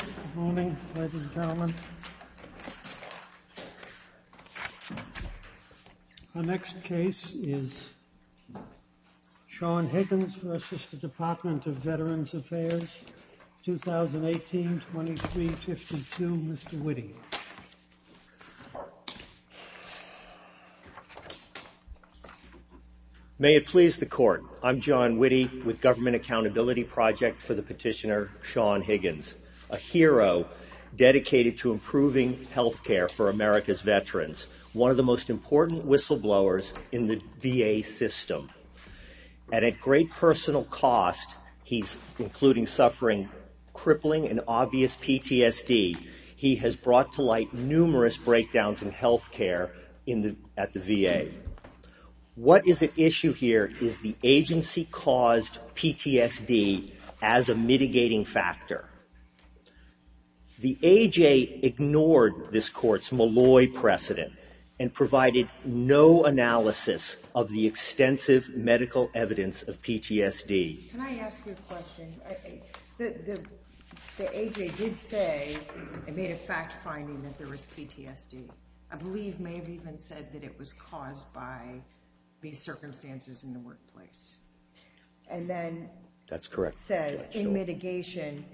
Good morning, ladies and gentlemen. Our next case is Sean Higgins v. Department of Veterans Affairs, 2018-2352, Mr. Witte. May it please the court, I'm John Witte with Government Accountability Project for the petitioner Sean Higgins, a hero dedicated to improving health care for America's veterans, one of the most important whistleblowers in the VA system. At a great personal cost, he's including suffering crippling and obvious PTSD. He has brought to light numerous breakdowns in health care at the VA. What is at issue here is the agency-caused PTSD as a mitigating factor. The AJ ignored this court's Malloy precedent and provided no analysis of the extensive medical evidence of PTSD. Can I ask you a question? The AJ did say it made a fact finding that there was PTSD. I believe may have even said that it was caused by these circumstances in the workplace. And then says in mitigation,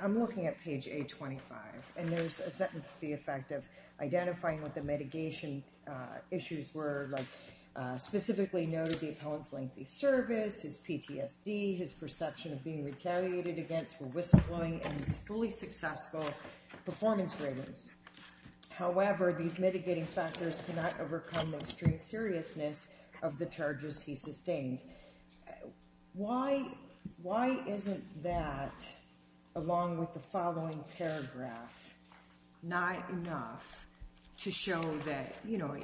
I'm looking at page A25, and there's a sentence to the effect of identifying what the mitigation issues were, like specifically noted the appellant's lengthy service, his PTSD, his perception of being retaliated against for whistleblowing, and his fully successful performance ratings. However, these mitigating factors cannot overcome the extreme seriousness of the charges he sustained. Why isn't that, along with the following paragraph, not enough to show that, you know,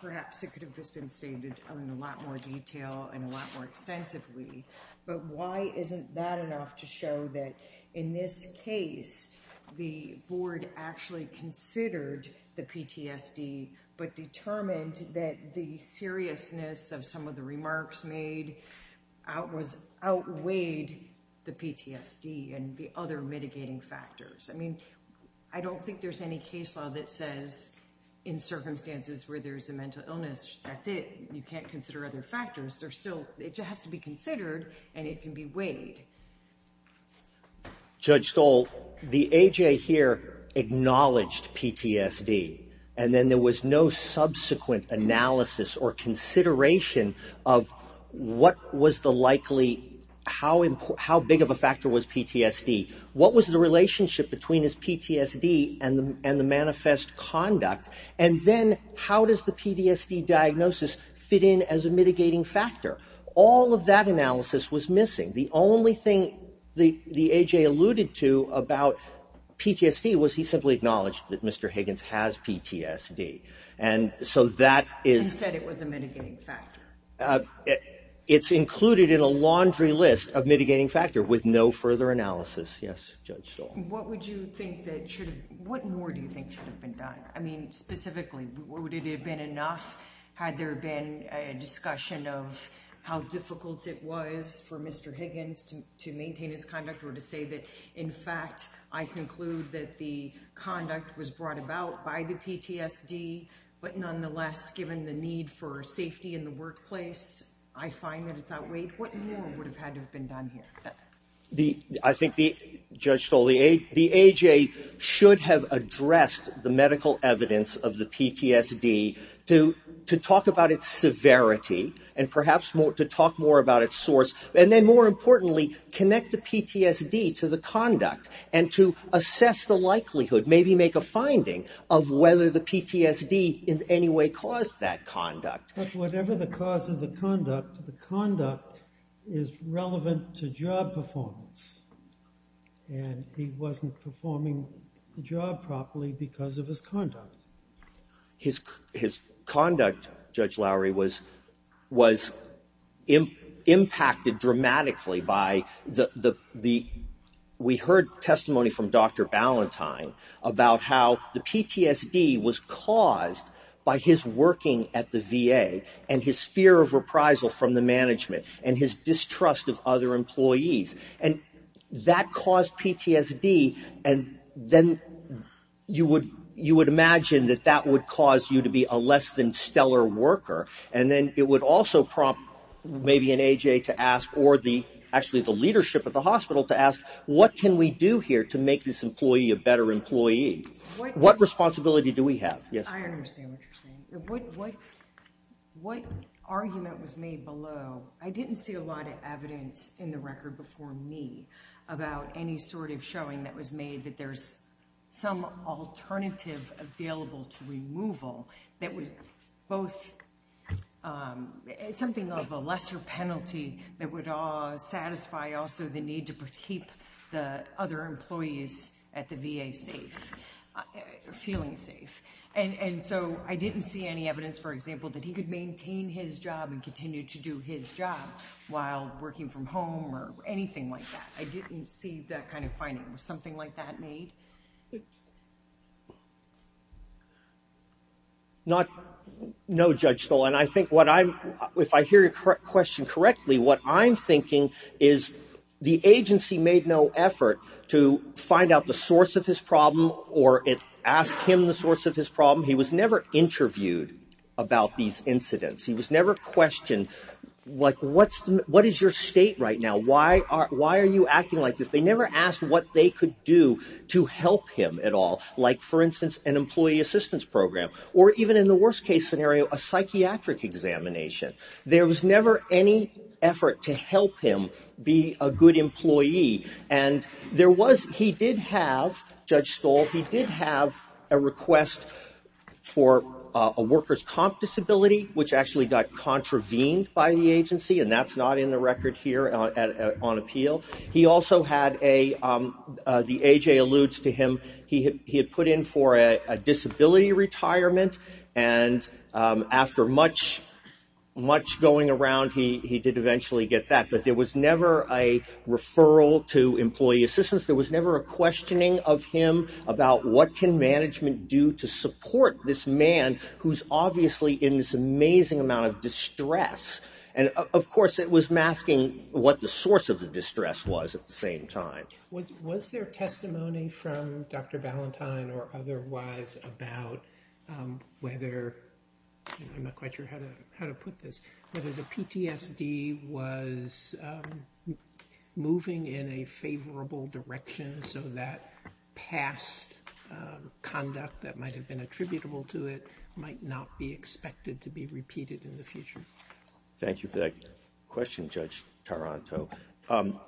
perhaps it could have just been stated in a lot more detail and a lot more extensively. But why isn't that enough to show that in this case, the board actually considered the PTSD but determined that the seriousness of some of the remarks made outweighed the PTSD and the other mitigating factors? I mean, I don't think there's any case law that says in circumstances where there's a mental illness, that's it. You can't consider other factors. It just has to be considered, and it can be weighed. Judge Stoll, the AJ here acknowledged PTSD, and then there was no subsequent analysis or consideration of what was the likely, how big of a factor was PTSD? What was the relationship between his PTSD and the manifest conduct? And then how does the PTSD diagnosis fit in as a mitigating factor? All of that analysis was missing. The only thing the AJ alluded to about PTSD was he simply acknowledged that Mr. Higgins has PTSD. And so that is... He said it was a mitigating factor. It's included in a laundry list of mitigating factor with no further analysis. Yes, Judge Stoll. What would you think that should have... What more do you think should have been done? I mean, specifically, would it have been enough had there been a discussion of how difficult it was for Mr. Higgins to maintain his conduct or to say that, in fact, I conclude that the I find that it's outweighed. What more would have had to have been done here? I think, Judge Stoll, the AJ should have addressed the medical evidence of the PTSD to talk about its severity and perhaps to talk more about its source. And then, more importantly, connect the PTSD to the conduct and to assess the likelihood, maybe make a finding, of whether the PTSD in any way caused that conduct. But whatever the cause of the conduct, the conduct is relevant to job performance. And he wasn't performing the job properly because of his conduct. His conduct, Judge Lowry, was impacted dramatically by the... and his fear of reprisal from the management and his distrust of other employees. And that caused PTSD. And then you would imagine that that would cause you to be a less than stellar worker. And then it would also prompt maybe an AJ to ask, or actually the leadership at the hospital to ask, what can we do here to make this employee a better employee? What responsibility do we have? I understand what you're saying. What argument was made below? I didn't see a lot of evidence in the record before me about any sort of showing that was made that there's some alternative available to removal that would both... something of a lesser penalty that would satisfy also the need to keep the other employees at the VA safe, feeling safe. And so I didn't see any evidence, for example, that he could maintain his job and continue to do his job while working from home or anything like that. I didn't see that kind of finding. Was something like that made? No, Judge Stoll. And I think what I'm... if I hear your question correctly, what I'm thinking is the agency made no effort to find out the source of his problem or ask him the source of his problem. He was never interviewed about these incidents. He was never questioned, like, what is your state right now? Why are you acting like this? They never asked what they could do to help him at all, like, for instance, an employee assistance program or even in the worst case scenario, a psychiatric examination. There was never any effort to help him be a good employee. And there was... he did have, Judge Stoll, he did have a request for a worker's comp disability, which actually got contravened by the agency, and that's not in the record here on appeal. He also had a... the A.J. alludes to him. He had put in for a disability retirement, and after much, much going around, he did eventually get that. But there was never a referral to employee assistance. There was never a questioning of him about what can management do to support this man who's obviously in this amazing amount of distress. And, of course, it was masking what the source of the distress was at the same time. Was there testimony from Dr. Ballantyne or otherwise about whether... I'm not quite sure how to put this, whether the PTSD was moving in a favorable direction so that past conduct that might have been attributable to it might not be expected to be repeated in the future? Thank you for that question, Judge Taranto.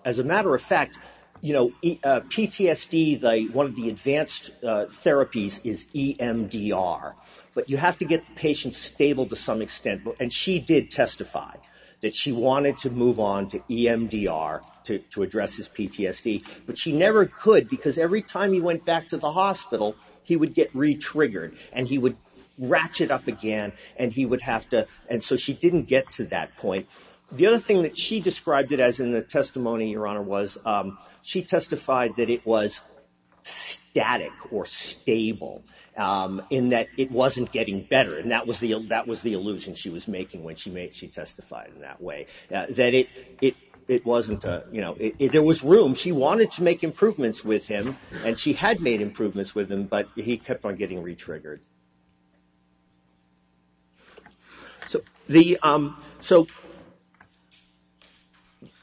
As a matter of fact, PTSD, one of the advanced therapies is EMDR, but you have to get the patient stable to some extent, and she did testify that she wanted to move on to EMDR to address his PTSD, but she never could because every time he went back to the hospital, he would get re-triggered, and he would ratchet up again, and he would have to... and so she didn't get to that point. The other thing that she described it as in the testimony, Your Honor, was she testified that it was static or stable in that it wasn't getting better, and that was the illusion she was making when she testified in that way, that it wasn't... There was room. She wanted to make improvements with him, and she had made improvements with him, but he kept on getting re-triggered. So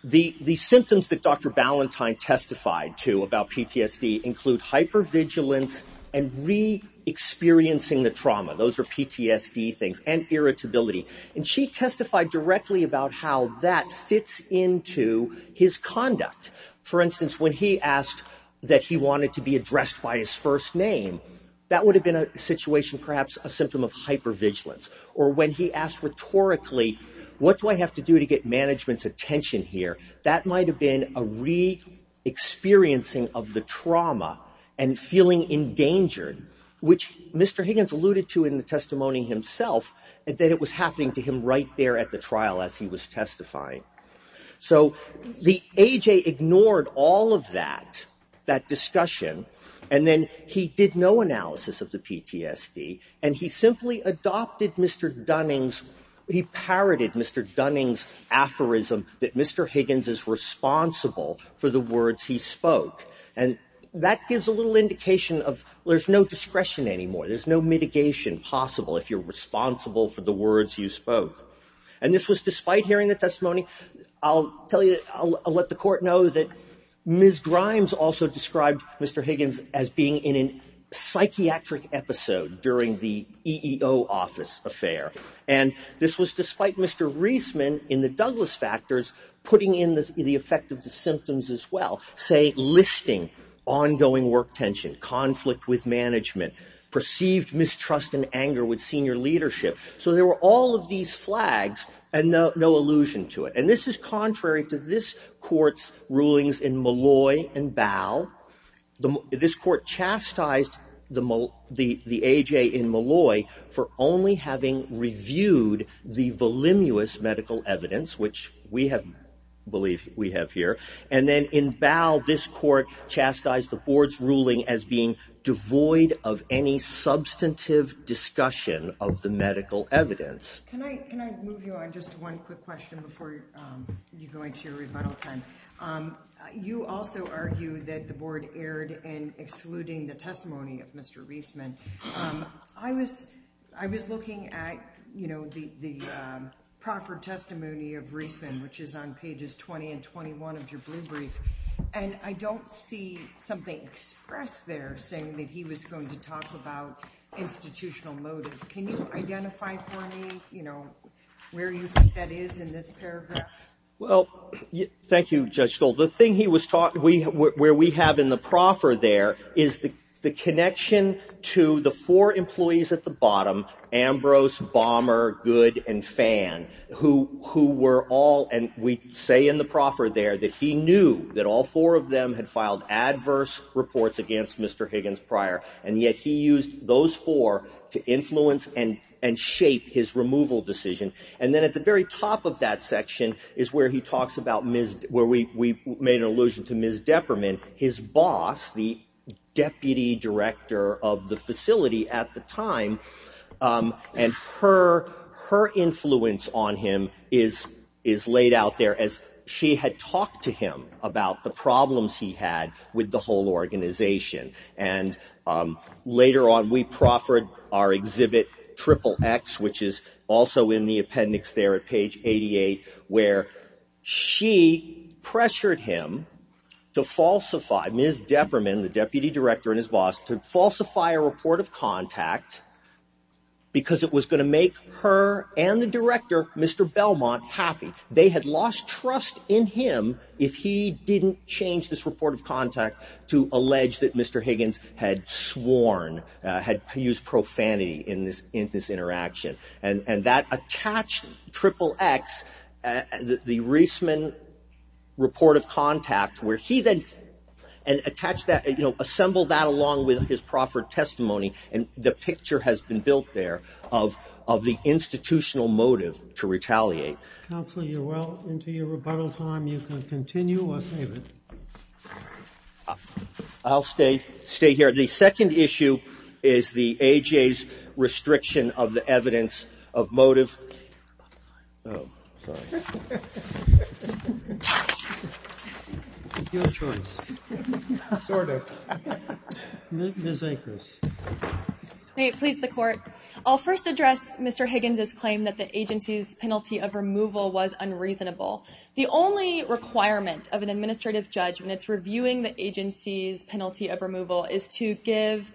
the symptoms that Dr. Ballantyne testified to about PTSD include hypervigilance and re-experiencing the trauma. Those are PTSD things, and irritability, and she testified directly about how that fits into his conduct. For instance, when he asked that he wanted to be addressed by his first name, that would have been a situation perhaps a symptom of hypervigilance, or when he asked rhetorically, What do I have to do to get management's attention here? That might have been a re-experiencing of the trauma and feeling endangered, which Mr. Higgins alluded to in the testimony himself that it was happening to him right there at the trial as he was testifying. So the A.J. ignored all of that, that discussion, and then he did no analysis of the PTSD, and he simply adopted Mr. Dunning's... He parroted Mr. Dunning's aphorism that Mr. Higgins is responsible for the words he spoke, and that gives a little indication of there's no discretion anymore. There's no mitigation possible if you're responsible for the words you spoke, and this was despite hearing the testimony. I'll tell you, I'll let the court know that Ms. Grimes also described Mr. Higgins as being in a psychiatric episode during the EEO office affair, and this was despite Mr. Reisman in the Douglas factors putting in the effect of the symptoms as well, say listing, ongoing work tension, conflict with management, perceived mistrust and anger with senior leadership. So there were all of these flags and no allusion to it, and this is contrary to this court's rulings in Malloy and Bowell. This court chastised the A.J. in Malloy for only having reviewed the voluminous medical evidence, which we believe we have here, and then in Bowell, this court chastised the board's ruling as being devoid of any substantive discussion of the medical evidence. Can I move you on just one quick question before you go into your rebuttal time? You also argue that the board erred in excluding the testimony of Mr. Reisman. I was looking at the proffer testimony of Reisman, which is on pages 20 and 21 of your blue brief, and I don't see something expressed there saying that he was going to talk about institutional motive. Can you identify for me where you think that is in this paragraph? Well, thank you, Judge Stoll. The thing where we have in the proffer there is the connection to the four employees at the bottom, Ambrose, Bomber, Good and Fan, who were all, and we say in the proffer there, that he knew that all four of them had filed adverse reports against Mr. Higgins prior, and yet he used those four to influence and shape his removal decision. And then at the very top of that section is where he talks about, where we made an allusion to Ms. Depperman, his boss, the deputy director of the facility at the time, and her influence on him is laid out there, as she had talked to him about the problems he had with the whole organization. And later on, we proffered our exhibit Triple X, which is also in the appendix there at page 88, where she pressured him to falsify, Ms. Depperman, the deputy director and his boss, to falsify a report of contact because it was going to make her and the director, Mr. Belmont, happy. They had lost trust in him if he didn't change this report of contact to allege that Mr. Higgins had sworn, had used profanity in this interaction, and that attached Triple X, the Reisman report of contact, where he then, and attached that, you know, assembled that along with his proffered testimony, and the picture has been built there of the institutional motive to retaliate. Counsel, you're well into your rebuttal time. You can continue or save it. I'll stay here. The second issue is the AJA's restriction of the evidence of motive. It's your choice, sort of. Ms. Akers. May it please the Court. I'll first address Mr. Higgins' claim that the agency's penalty of removal was unreasonable. The only requirement of an administrative judge when it's reviewing the agency's penalty of removal is to give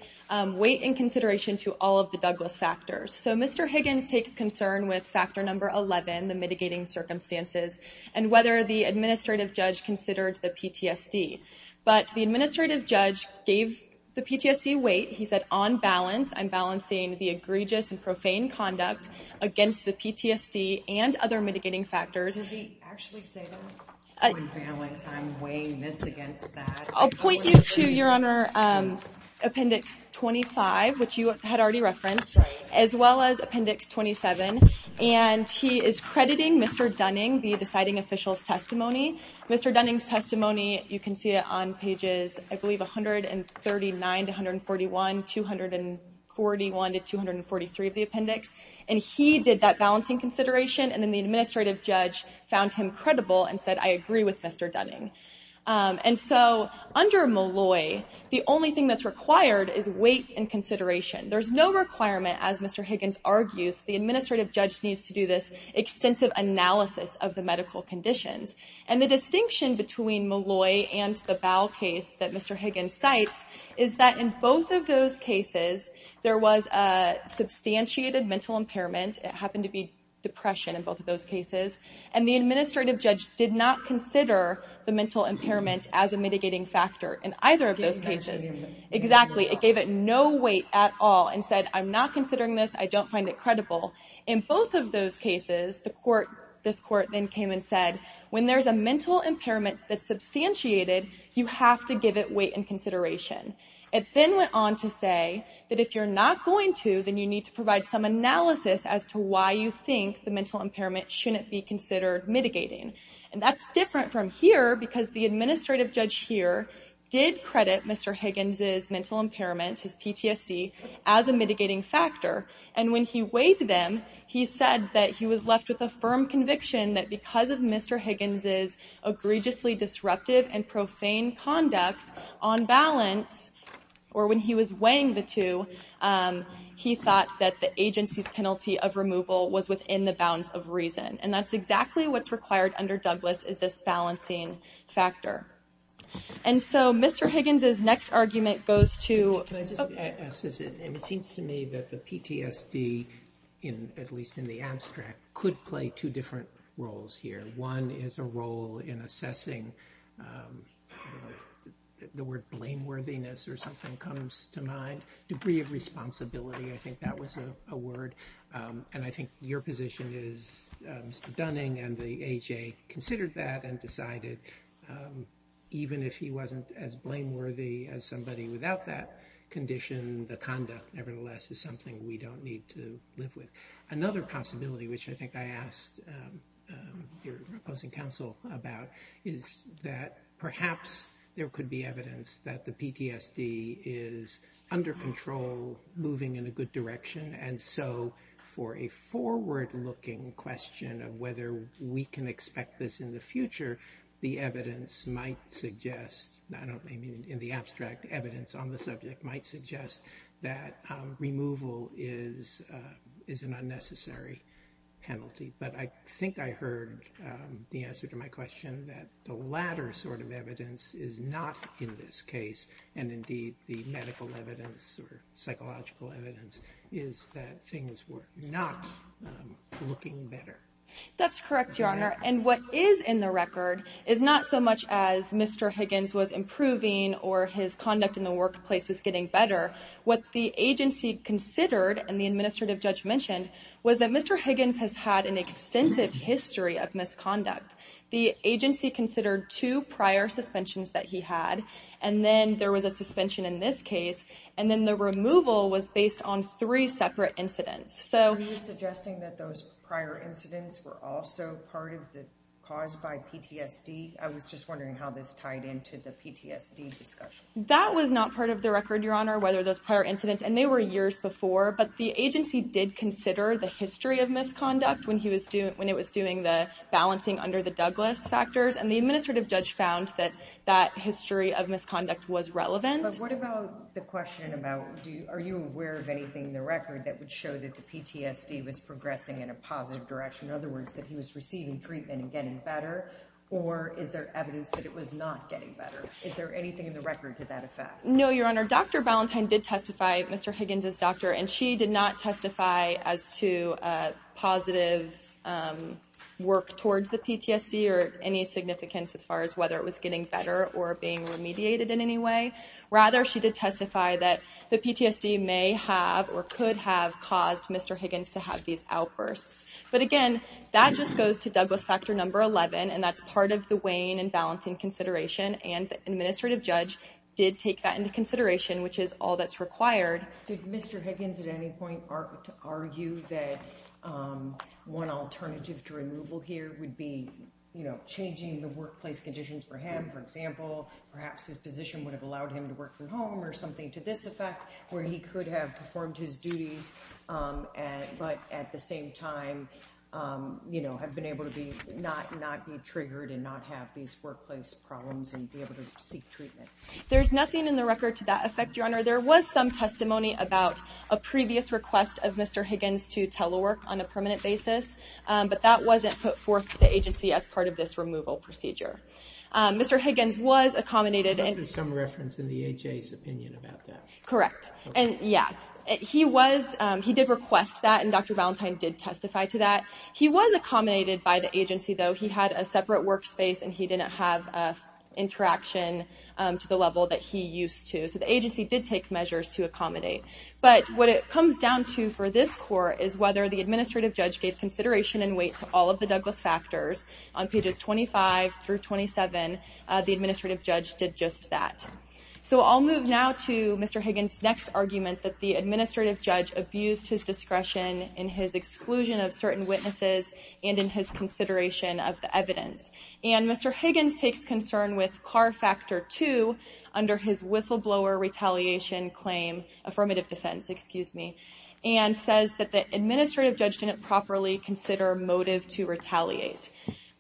weight and consideration to all of the Douglas factors. So Mr. Higgins takes concern with factor number 11, the mitigating circumstances, and whether the administrative judge considered the PTSD. But the administrative judge gave the PTSD weight. He said, on balance, I'm balancing the egregious and profane conduct against the PTSD and other mitigating factors. Does he actually say that? On balance, I'm weighing this against that. I'll point you to, Your Honor, Appendix 25, which you had already referenced, as well as Appendix 27, and he is crediting Mr. Dunning, the deciding official's testimony. Mr. Dunning's testimony, you can see it on pages, I believe, 139 to 141, 241 to 243 of the appendix. And he did that balancing consideration, and then the administrative judge found him credible and said, I agree with Mr. Dunning. And so under Malloy, the only thing that's required is weight and consideration. There's no requirement, as Mr. Higgins argues, the administrative judge needs to do this extensive analysis of the medical conditions. And the distinction between Malloy and the Bow case that Mr. Higgins cites is that in both of those cases, there was a substantiated mental impairment. It happened to be depression in both of those cases. And the administrative judge did not consider the mental impairment as a mitigating factor in either of those cases. Exactly. It gave it no weight at all and said, I'm not considering this. I don't find it credible. In both of those cases, this court then came and said, when there's a mental impairment that's substantiated, you have to give it weight and consideration. It then went on to say that if you're not going to, then you need to provide some analysis as to why you think the mental impairment shouldn't be considered mitigating. And that's different from here because the administrative judge here did credit Mr. Higgins' mental impairment, his PTSD, as a mitigating factor. And when he weighed them, he said that he was left with a firm conviction that because of Mr. Higgins' egregiously disruptive and profane conduct on balance, or when he was weighing the two, he thought that the agency's penalty of removal was within the bounds of reason. And that's exactly what's required under Douglas is this balancing factor. And so Mr. Higgins' next argument goes to... Can I just ask this? It seems to me that the PTSD, at least in the abstract, could play two different roles here. One is a role in assessing the word blameworthiness or something comes to mind. Debris of responsibility, I think that was a word. And I think your position is Mr. Dunning and the AJ considered that and decided, even if he wasn't as blameworthy as somebody without that condition, the conduct nevertheless is something we don't need to live with. Another possibility, which I think I asked your opposing counsel about, is that perhaps there could be evidence that the PTSD is under control, moving in a good direction. And so for a forward-looking question of whether we can expect this in the future, the evidence might suggest, in the abstract evidence on the subject, might suggest that removal is an unnecessary penalty. But I think I heard the answer to my question that the latter sort of evidence is not in this case. And indeed, the medical evidence or psychological evidence is that things were not looking better. That's correct, Your Honor. And what is in the record is not so much as Mr. Higgins was improving or his conduct in the workplace was getting better. What the agency considered, and the administrative judge mentioned, was that Mr. Higgins has had an extensive history of misconduct. The agency considered two prior suspensions that he had, and then there was a suspension in this case, and then the removal was based on three separate incidents. So are you suggesting that those prior incidents were also part of the cause by PTSD? I was just wondering how this tied into the PTSD discussion. That was not part of the record, Your Honor, whether those prior incidents, and they were years before. But the agency did consider the history of misconduct when it was doing the balancing under the Douglas factors, and the administrative judge found that that history of misconduct was relevant. But what about the question about are you aware of anything in the record that would show that the PTSD was progressing in a positive direction? In other words, that he was receiving treatment and getting better, or is there evidence that it was not getting better? Is there anything in the record to that effect? No, Your Honor. Dr. Ballantyne did testify, Mr. Higgins' doctor, and she did not testify as to positive work towards the PTSD or any significance as far as whether it was getting better or being remediated in any way. Rather, she did testify that the PTSD may have or could have caused Mr. Higgins to have these outbursts. But again, that just goes to Douglas factor number 11, and that's part of the weighing and balancing consideration, and the administrative judge did take that into consideration, which is all that's required. Did Mr. Higgins at any point argue that one alternative to removal here would be, you know, changing the workplace conditions for him, for example? Perhaps his position would have allowed him to work from home or something to this effect, where he could have performed his duties but at the same time, you know, have been able to not be triggered and not have these workplace problems and be able to seek treatment. There's nothing in the record to that effect, Your Honor. There was some testimony about a previous request of Mr. Higgins to telework on a permanent basis, but that wasn't put forth to the agency as part of this removal procedure. Mr. Higgins was accommodated. There's some reference in the AHA's opinion about that. Correct. And yeah, he did request that, and Dr. Ballantyne did testify to that. He was accommodated by the agency, though. He had a separate workspace, and he didn't have interaction to the level that he used to. So the agency did take measures to accommodate. But what it comes down to for this court is whether the administrative judge gave consideration and weight to all of the Douglas factors. On pages 25 through 27, the administrative judge did just that. So I'll move now to Mr. Higgins' next argument, that the administrative judge abused his discretion in his exclusion of certain witnesses and in his consideration of the evidence. And Mr. Higgins takes concern with CAR Factor 2 under his whistleblower retaliation claim, affirmative defense, excuse me, and says that the administrative judge didn't properly consider motive to retaliate.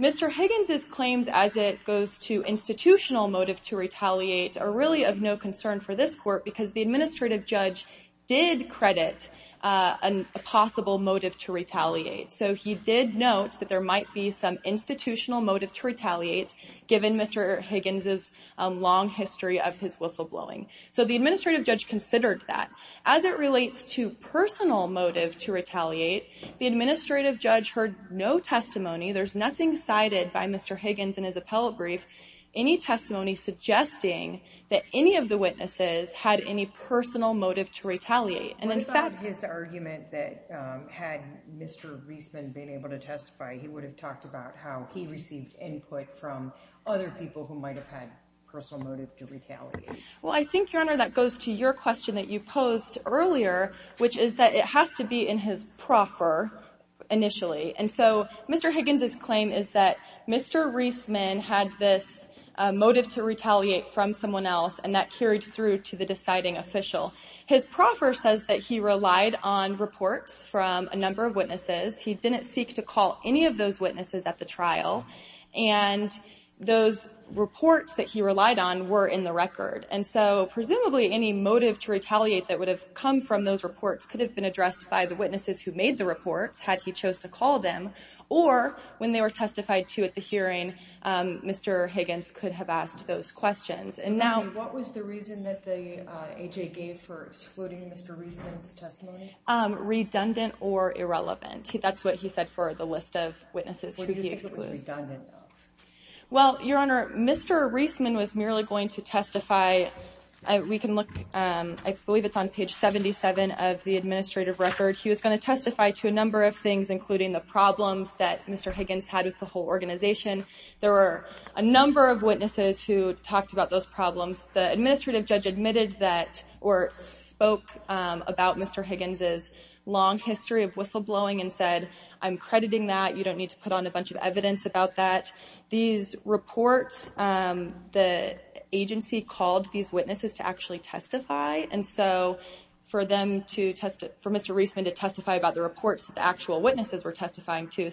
Mr. Higgins' claims as it goes to institutional motive to retaliate are really of no concern for this court because the administrative judge did credit a possible motive to retaliate. So he did note that there might be some institutional motive to retaliate, given Mr. Higgins' long history of his whistleblowing. So the administrative judge considered that. As it relates to personal motive to retaliate, the administrative judge heard no testimony. There's nothing cited by Mr. Higgins in his appellate brief, any testimony suggesting that any of the witnesses had any personal motive to retaliate. And in fact— What about his argument that had Mr. Reisman been able to testify, he would have talked about how he received input from other people who might have had personal motive to retaliate? Well, I think, Your Honor, that goes to your question that you posed earlier, which is that it has to be in his proffer initially. And so Mr. Higgins' claim is that Mr. Reisman had this motive to retaliate from someone else, and that carried through to the deciding official. His proffer says that he relied on reports from a number of witnesses. He didn't seek to call any of those witnesses at the trial. And those reports that he relied on were in the record. And so presumably any motive to retaliate that would have come from those reports could have been addressed by the witnesses who made the reports, had he chose to call them, or when they were testified to at the hearing, Mr. Higgins could have asked those questions. And now— What was the reason that the A.J. gave for excluding Mr. Reisman's testimony? Redundant or irrelevant. That's what he said for the list of witnesses who he excluded. What do you think it was redundant of? Well, Your Honor, Mr. Reisman was merely going to testify— We can look—I believe it's on page 77 of the administrative record. He was going to testify to a number of things, including the problems that Mr. Higgins had with the whole organization. There were a number of witnesses who talked about those problems. The administrative judge admitted that—or spoke about Mr. Higgins' long history of whistleblowing and said, I'm crediting that. You don't need to put on a bunch of evidence about that. These reports, the agency called these witnesses to actually testify, and so for Mr. Reisman to testify about the reports that the actual witnesses were testifying to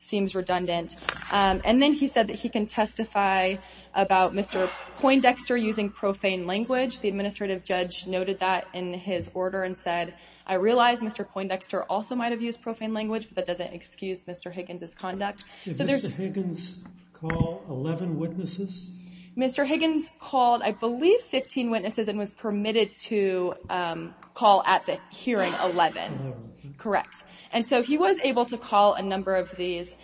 seems redundant. And then he said that he can testify about Mr. Poindexter using profane language. The administrative judge noted that in his order and said, I realize Mr. Poindexter also might have used profane language, but that doesn't excuse Mr. Higgins' conduct. Did Mr. Higgins call 11 witnesses? Mr. Higgins called, I believe, 15 witnesses and was permitted to call at the hearing 11. 11. Correct. And so he was able to call a number of these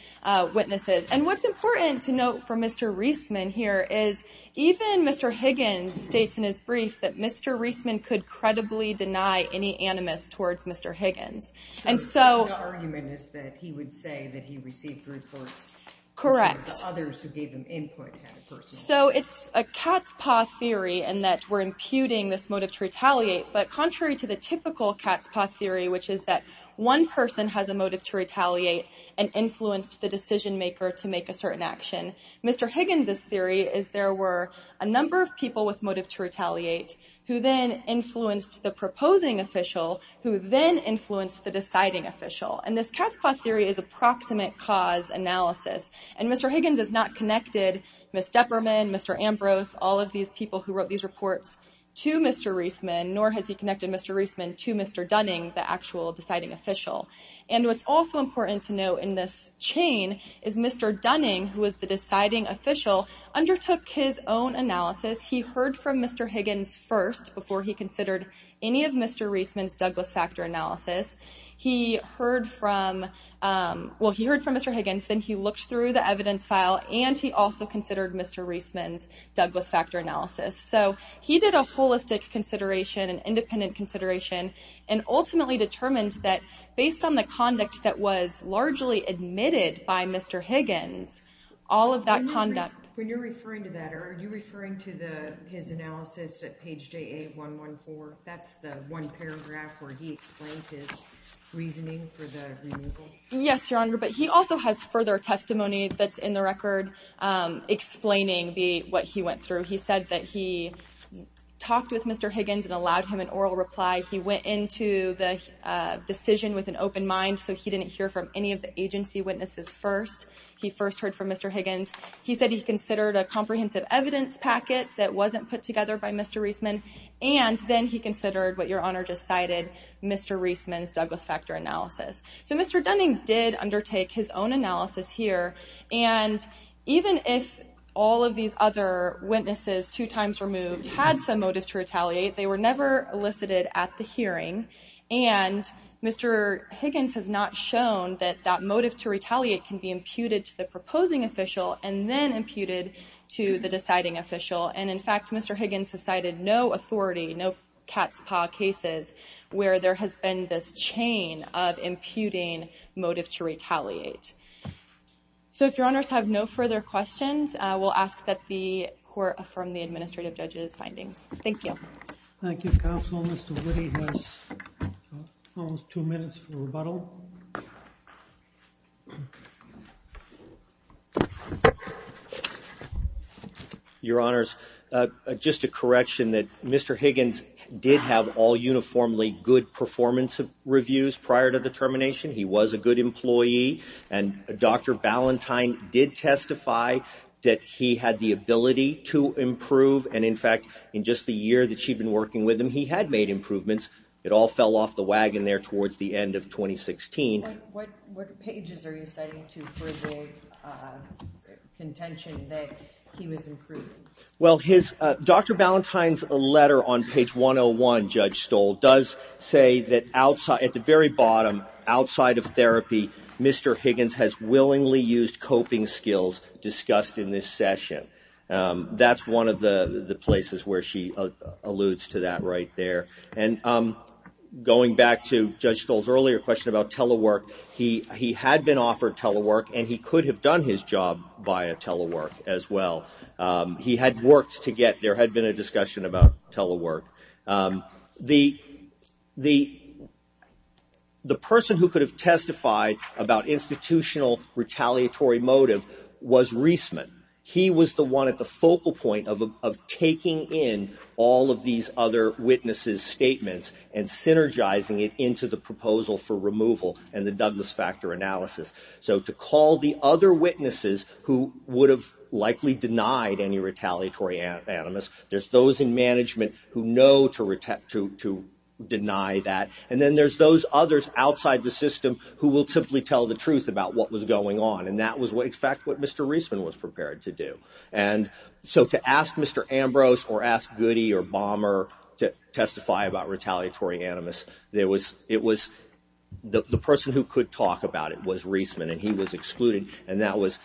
witnesses. And what's important to note for Mr. Reisman here is even Mr. Higgins states in his brief that Mr. Reisman could credibly deny any animus towards Mr. Higgins. So the argument is that he would say that he received reports, but the others who gave him input had a personal motive. So it's a cat's paw theory in that we're imputing this motive to retaliate, but contrary to the typical cat's paw theory, which is that one person has a motive to retaliate and influenced the decision maker to make a certain action, Mr. Higgins' theory is there were a number of people with motive to retaliate who then influenced the proposing official, who then influenced the deciding official. And this cat's paw theory is approximate cause analysis. And Mr. Higgins has not connected Ms. Depperman, Mr. Ambrose, all of these people who wrote these reports to Mr. Reisman, nor has he connected Mr. Reisman to Mr. Dunning, the actual deciding official. And what's also important to note in this chain is Mr. Dunning, who was the deciding official, undertook his own analysis. He heard from Mr. Higgins first before he considered any of Mr. Reisman's Douglas factor analysis. He heard from Mr. Higgins, then he looked through the evidence file, and he also considered Mr. Reisman's Douglas factor analysis. So he did a holistic consideration, an independent consideration, and ultimately determined that based on the conduct that was largely admitted by Mr. Higgins, all of that conduct... When you're referring to that, are you referring to his analysis at page JA114? That's the one paragraph where he explained his reasoning for the removal? Yes, Your Honor, but he also has further testimony that's in the record explaining what he went through. He said that he talked with Mr. Higgins and allowed him an oral reply. He went into the decision with an open mind, so he didn't hear from any of the agency witnesses first. He first heard from Mr. Higgins. He said he considered a comprehensive evidence packet that wasn't put together by Mr. Reisman, and then he considered what Your Honor just cited, Mr. Reisman's Douglas factor analysis. So Mr. Dunning did undertake his own analysis here, and even if all of these other witnesses, two times removed, had some motive to retaliate, they were never elicited at the hearing, and Mr. Higgins has not shown that that motive to retaliate can be imputed to the proposing official and then imputed to the deciding official. And in fact, Mr. Higgins has cited no authority, no cat's paw cases, where there has been this chain of imputing motive to retaliate. So if Your Honors have no further questions, we'll ask that the court affirm the administrative judge's findings. Thank you. Thank you, counsel. Mr. Woody has almost two minutes for rebuttal. Your Honors, just a correction that Mr. Higgins did have all uniformly good performance reviews prior to the termination. He was a good employee, and Dr. Ballantyne did testify that he had the ability to improve, and in fact, in just the year that she'd been working with him, he had made improvements. It all fell off the wagon there towards the end of 2016. What pages are you citing to further contention that he was improved? Well, Dr. Ballantyne's letter on page 101, Judge Stoll, does say that at the very bottom, outside of therapy, Mr. Higgins has willingly used coping skills discussed in this session. That's one of the places where she alludes to that right there. And going back to Judge Stoll's earlier question about telework, he had been offered telework, and he could have done his job via telework as well. He had worked to get, there had been a discussion about telework. The person who could have testified about institutional retaliatory motive was Reisman. He was the one at the focal point of taking in all of these other witnesses' statements and synergizing it into the proposal for removal and the Douglas factor analysis. So to call the other witnesses who would have likely denied any retaliatory animus, there's those in management who know to deny that, and then there's those others outside the system who will simply tell the truth about what was going on. And that was, in fact, what Mr. Reisman was prepared to do. And so to ask Mr. Ambrose or ask Goody or Balmer to testify about retaliatory animus, it was the person who could talk about it was Reisman, and he was excluded. And that was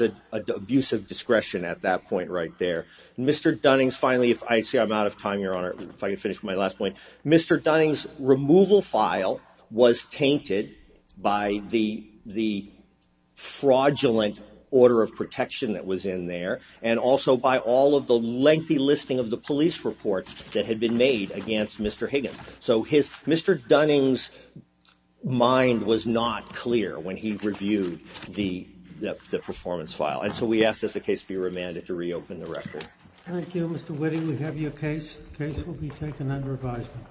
an abuse of discretion at that point right there. Mr. Dunnings, finally, if I see I'm out of time, Your Honor, if I can finish my last point. Mr. Dunnings' removal file was tainted by the fraudulent order of protection that was in there and also by all of the lengthy listing of the police reports that had been made against Mr. Higgins. So Mr. Dunnings' mind was not clear when he reviewed the performance file. And so we ask that the case be remanded to reopen the record. Thank you, Mr. Witte. We have your case. The case will be taken under advisement.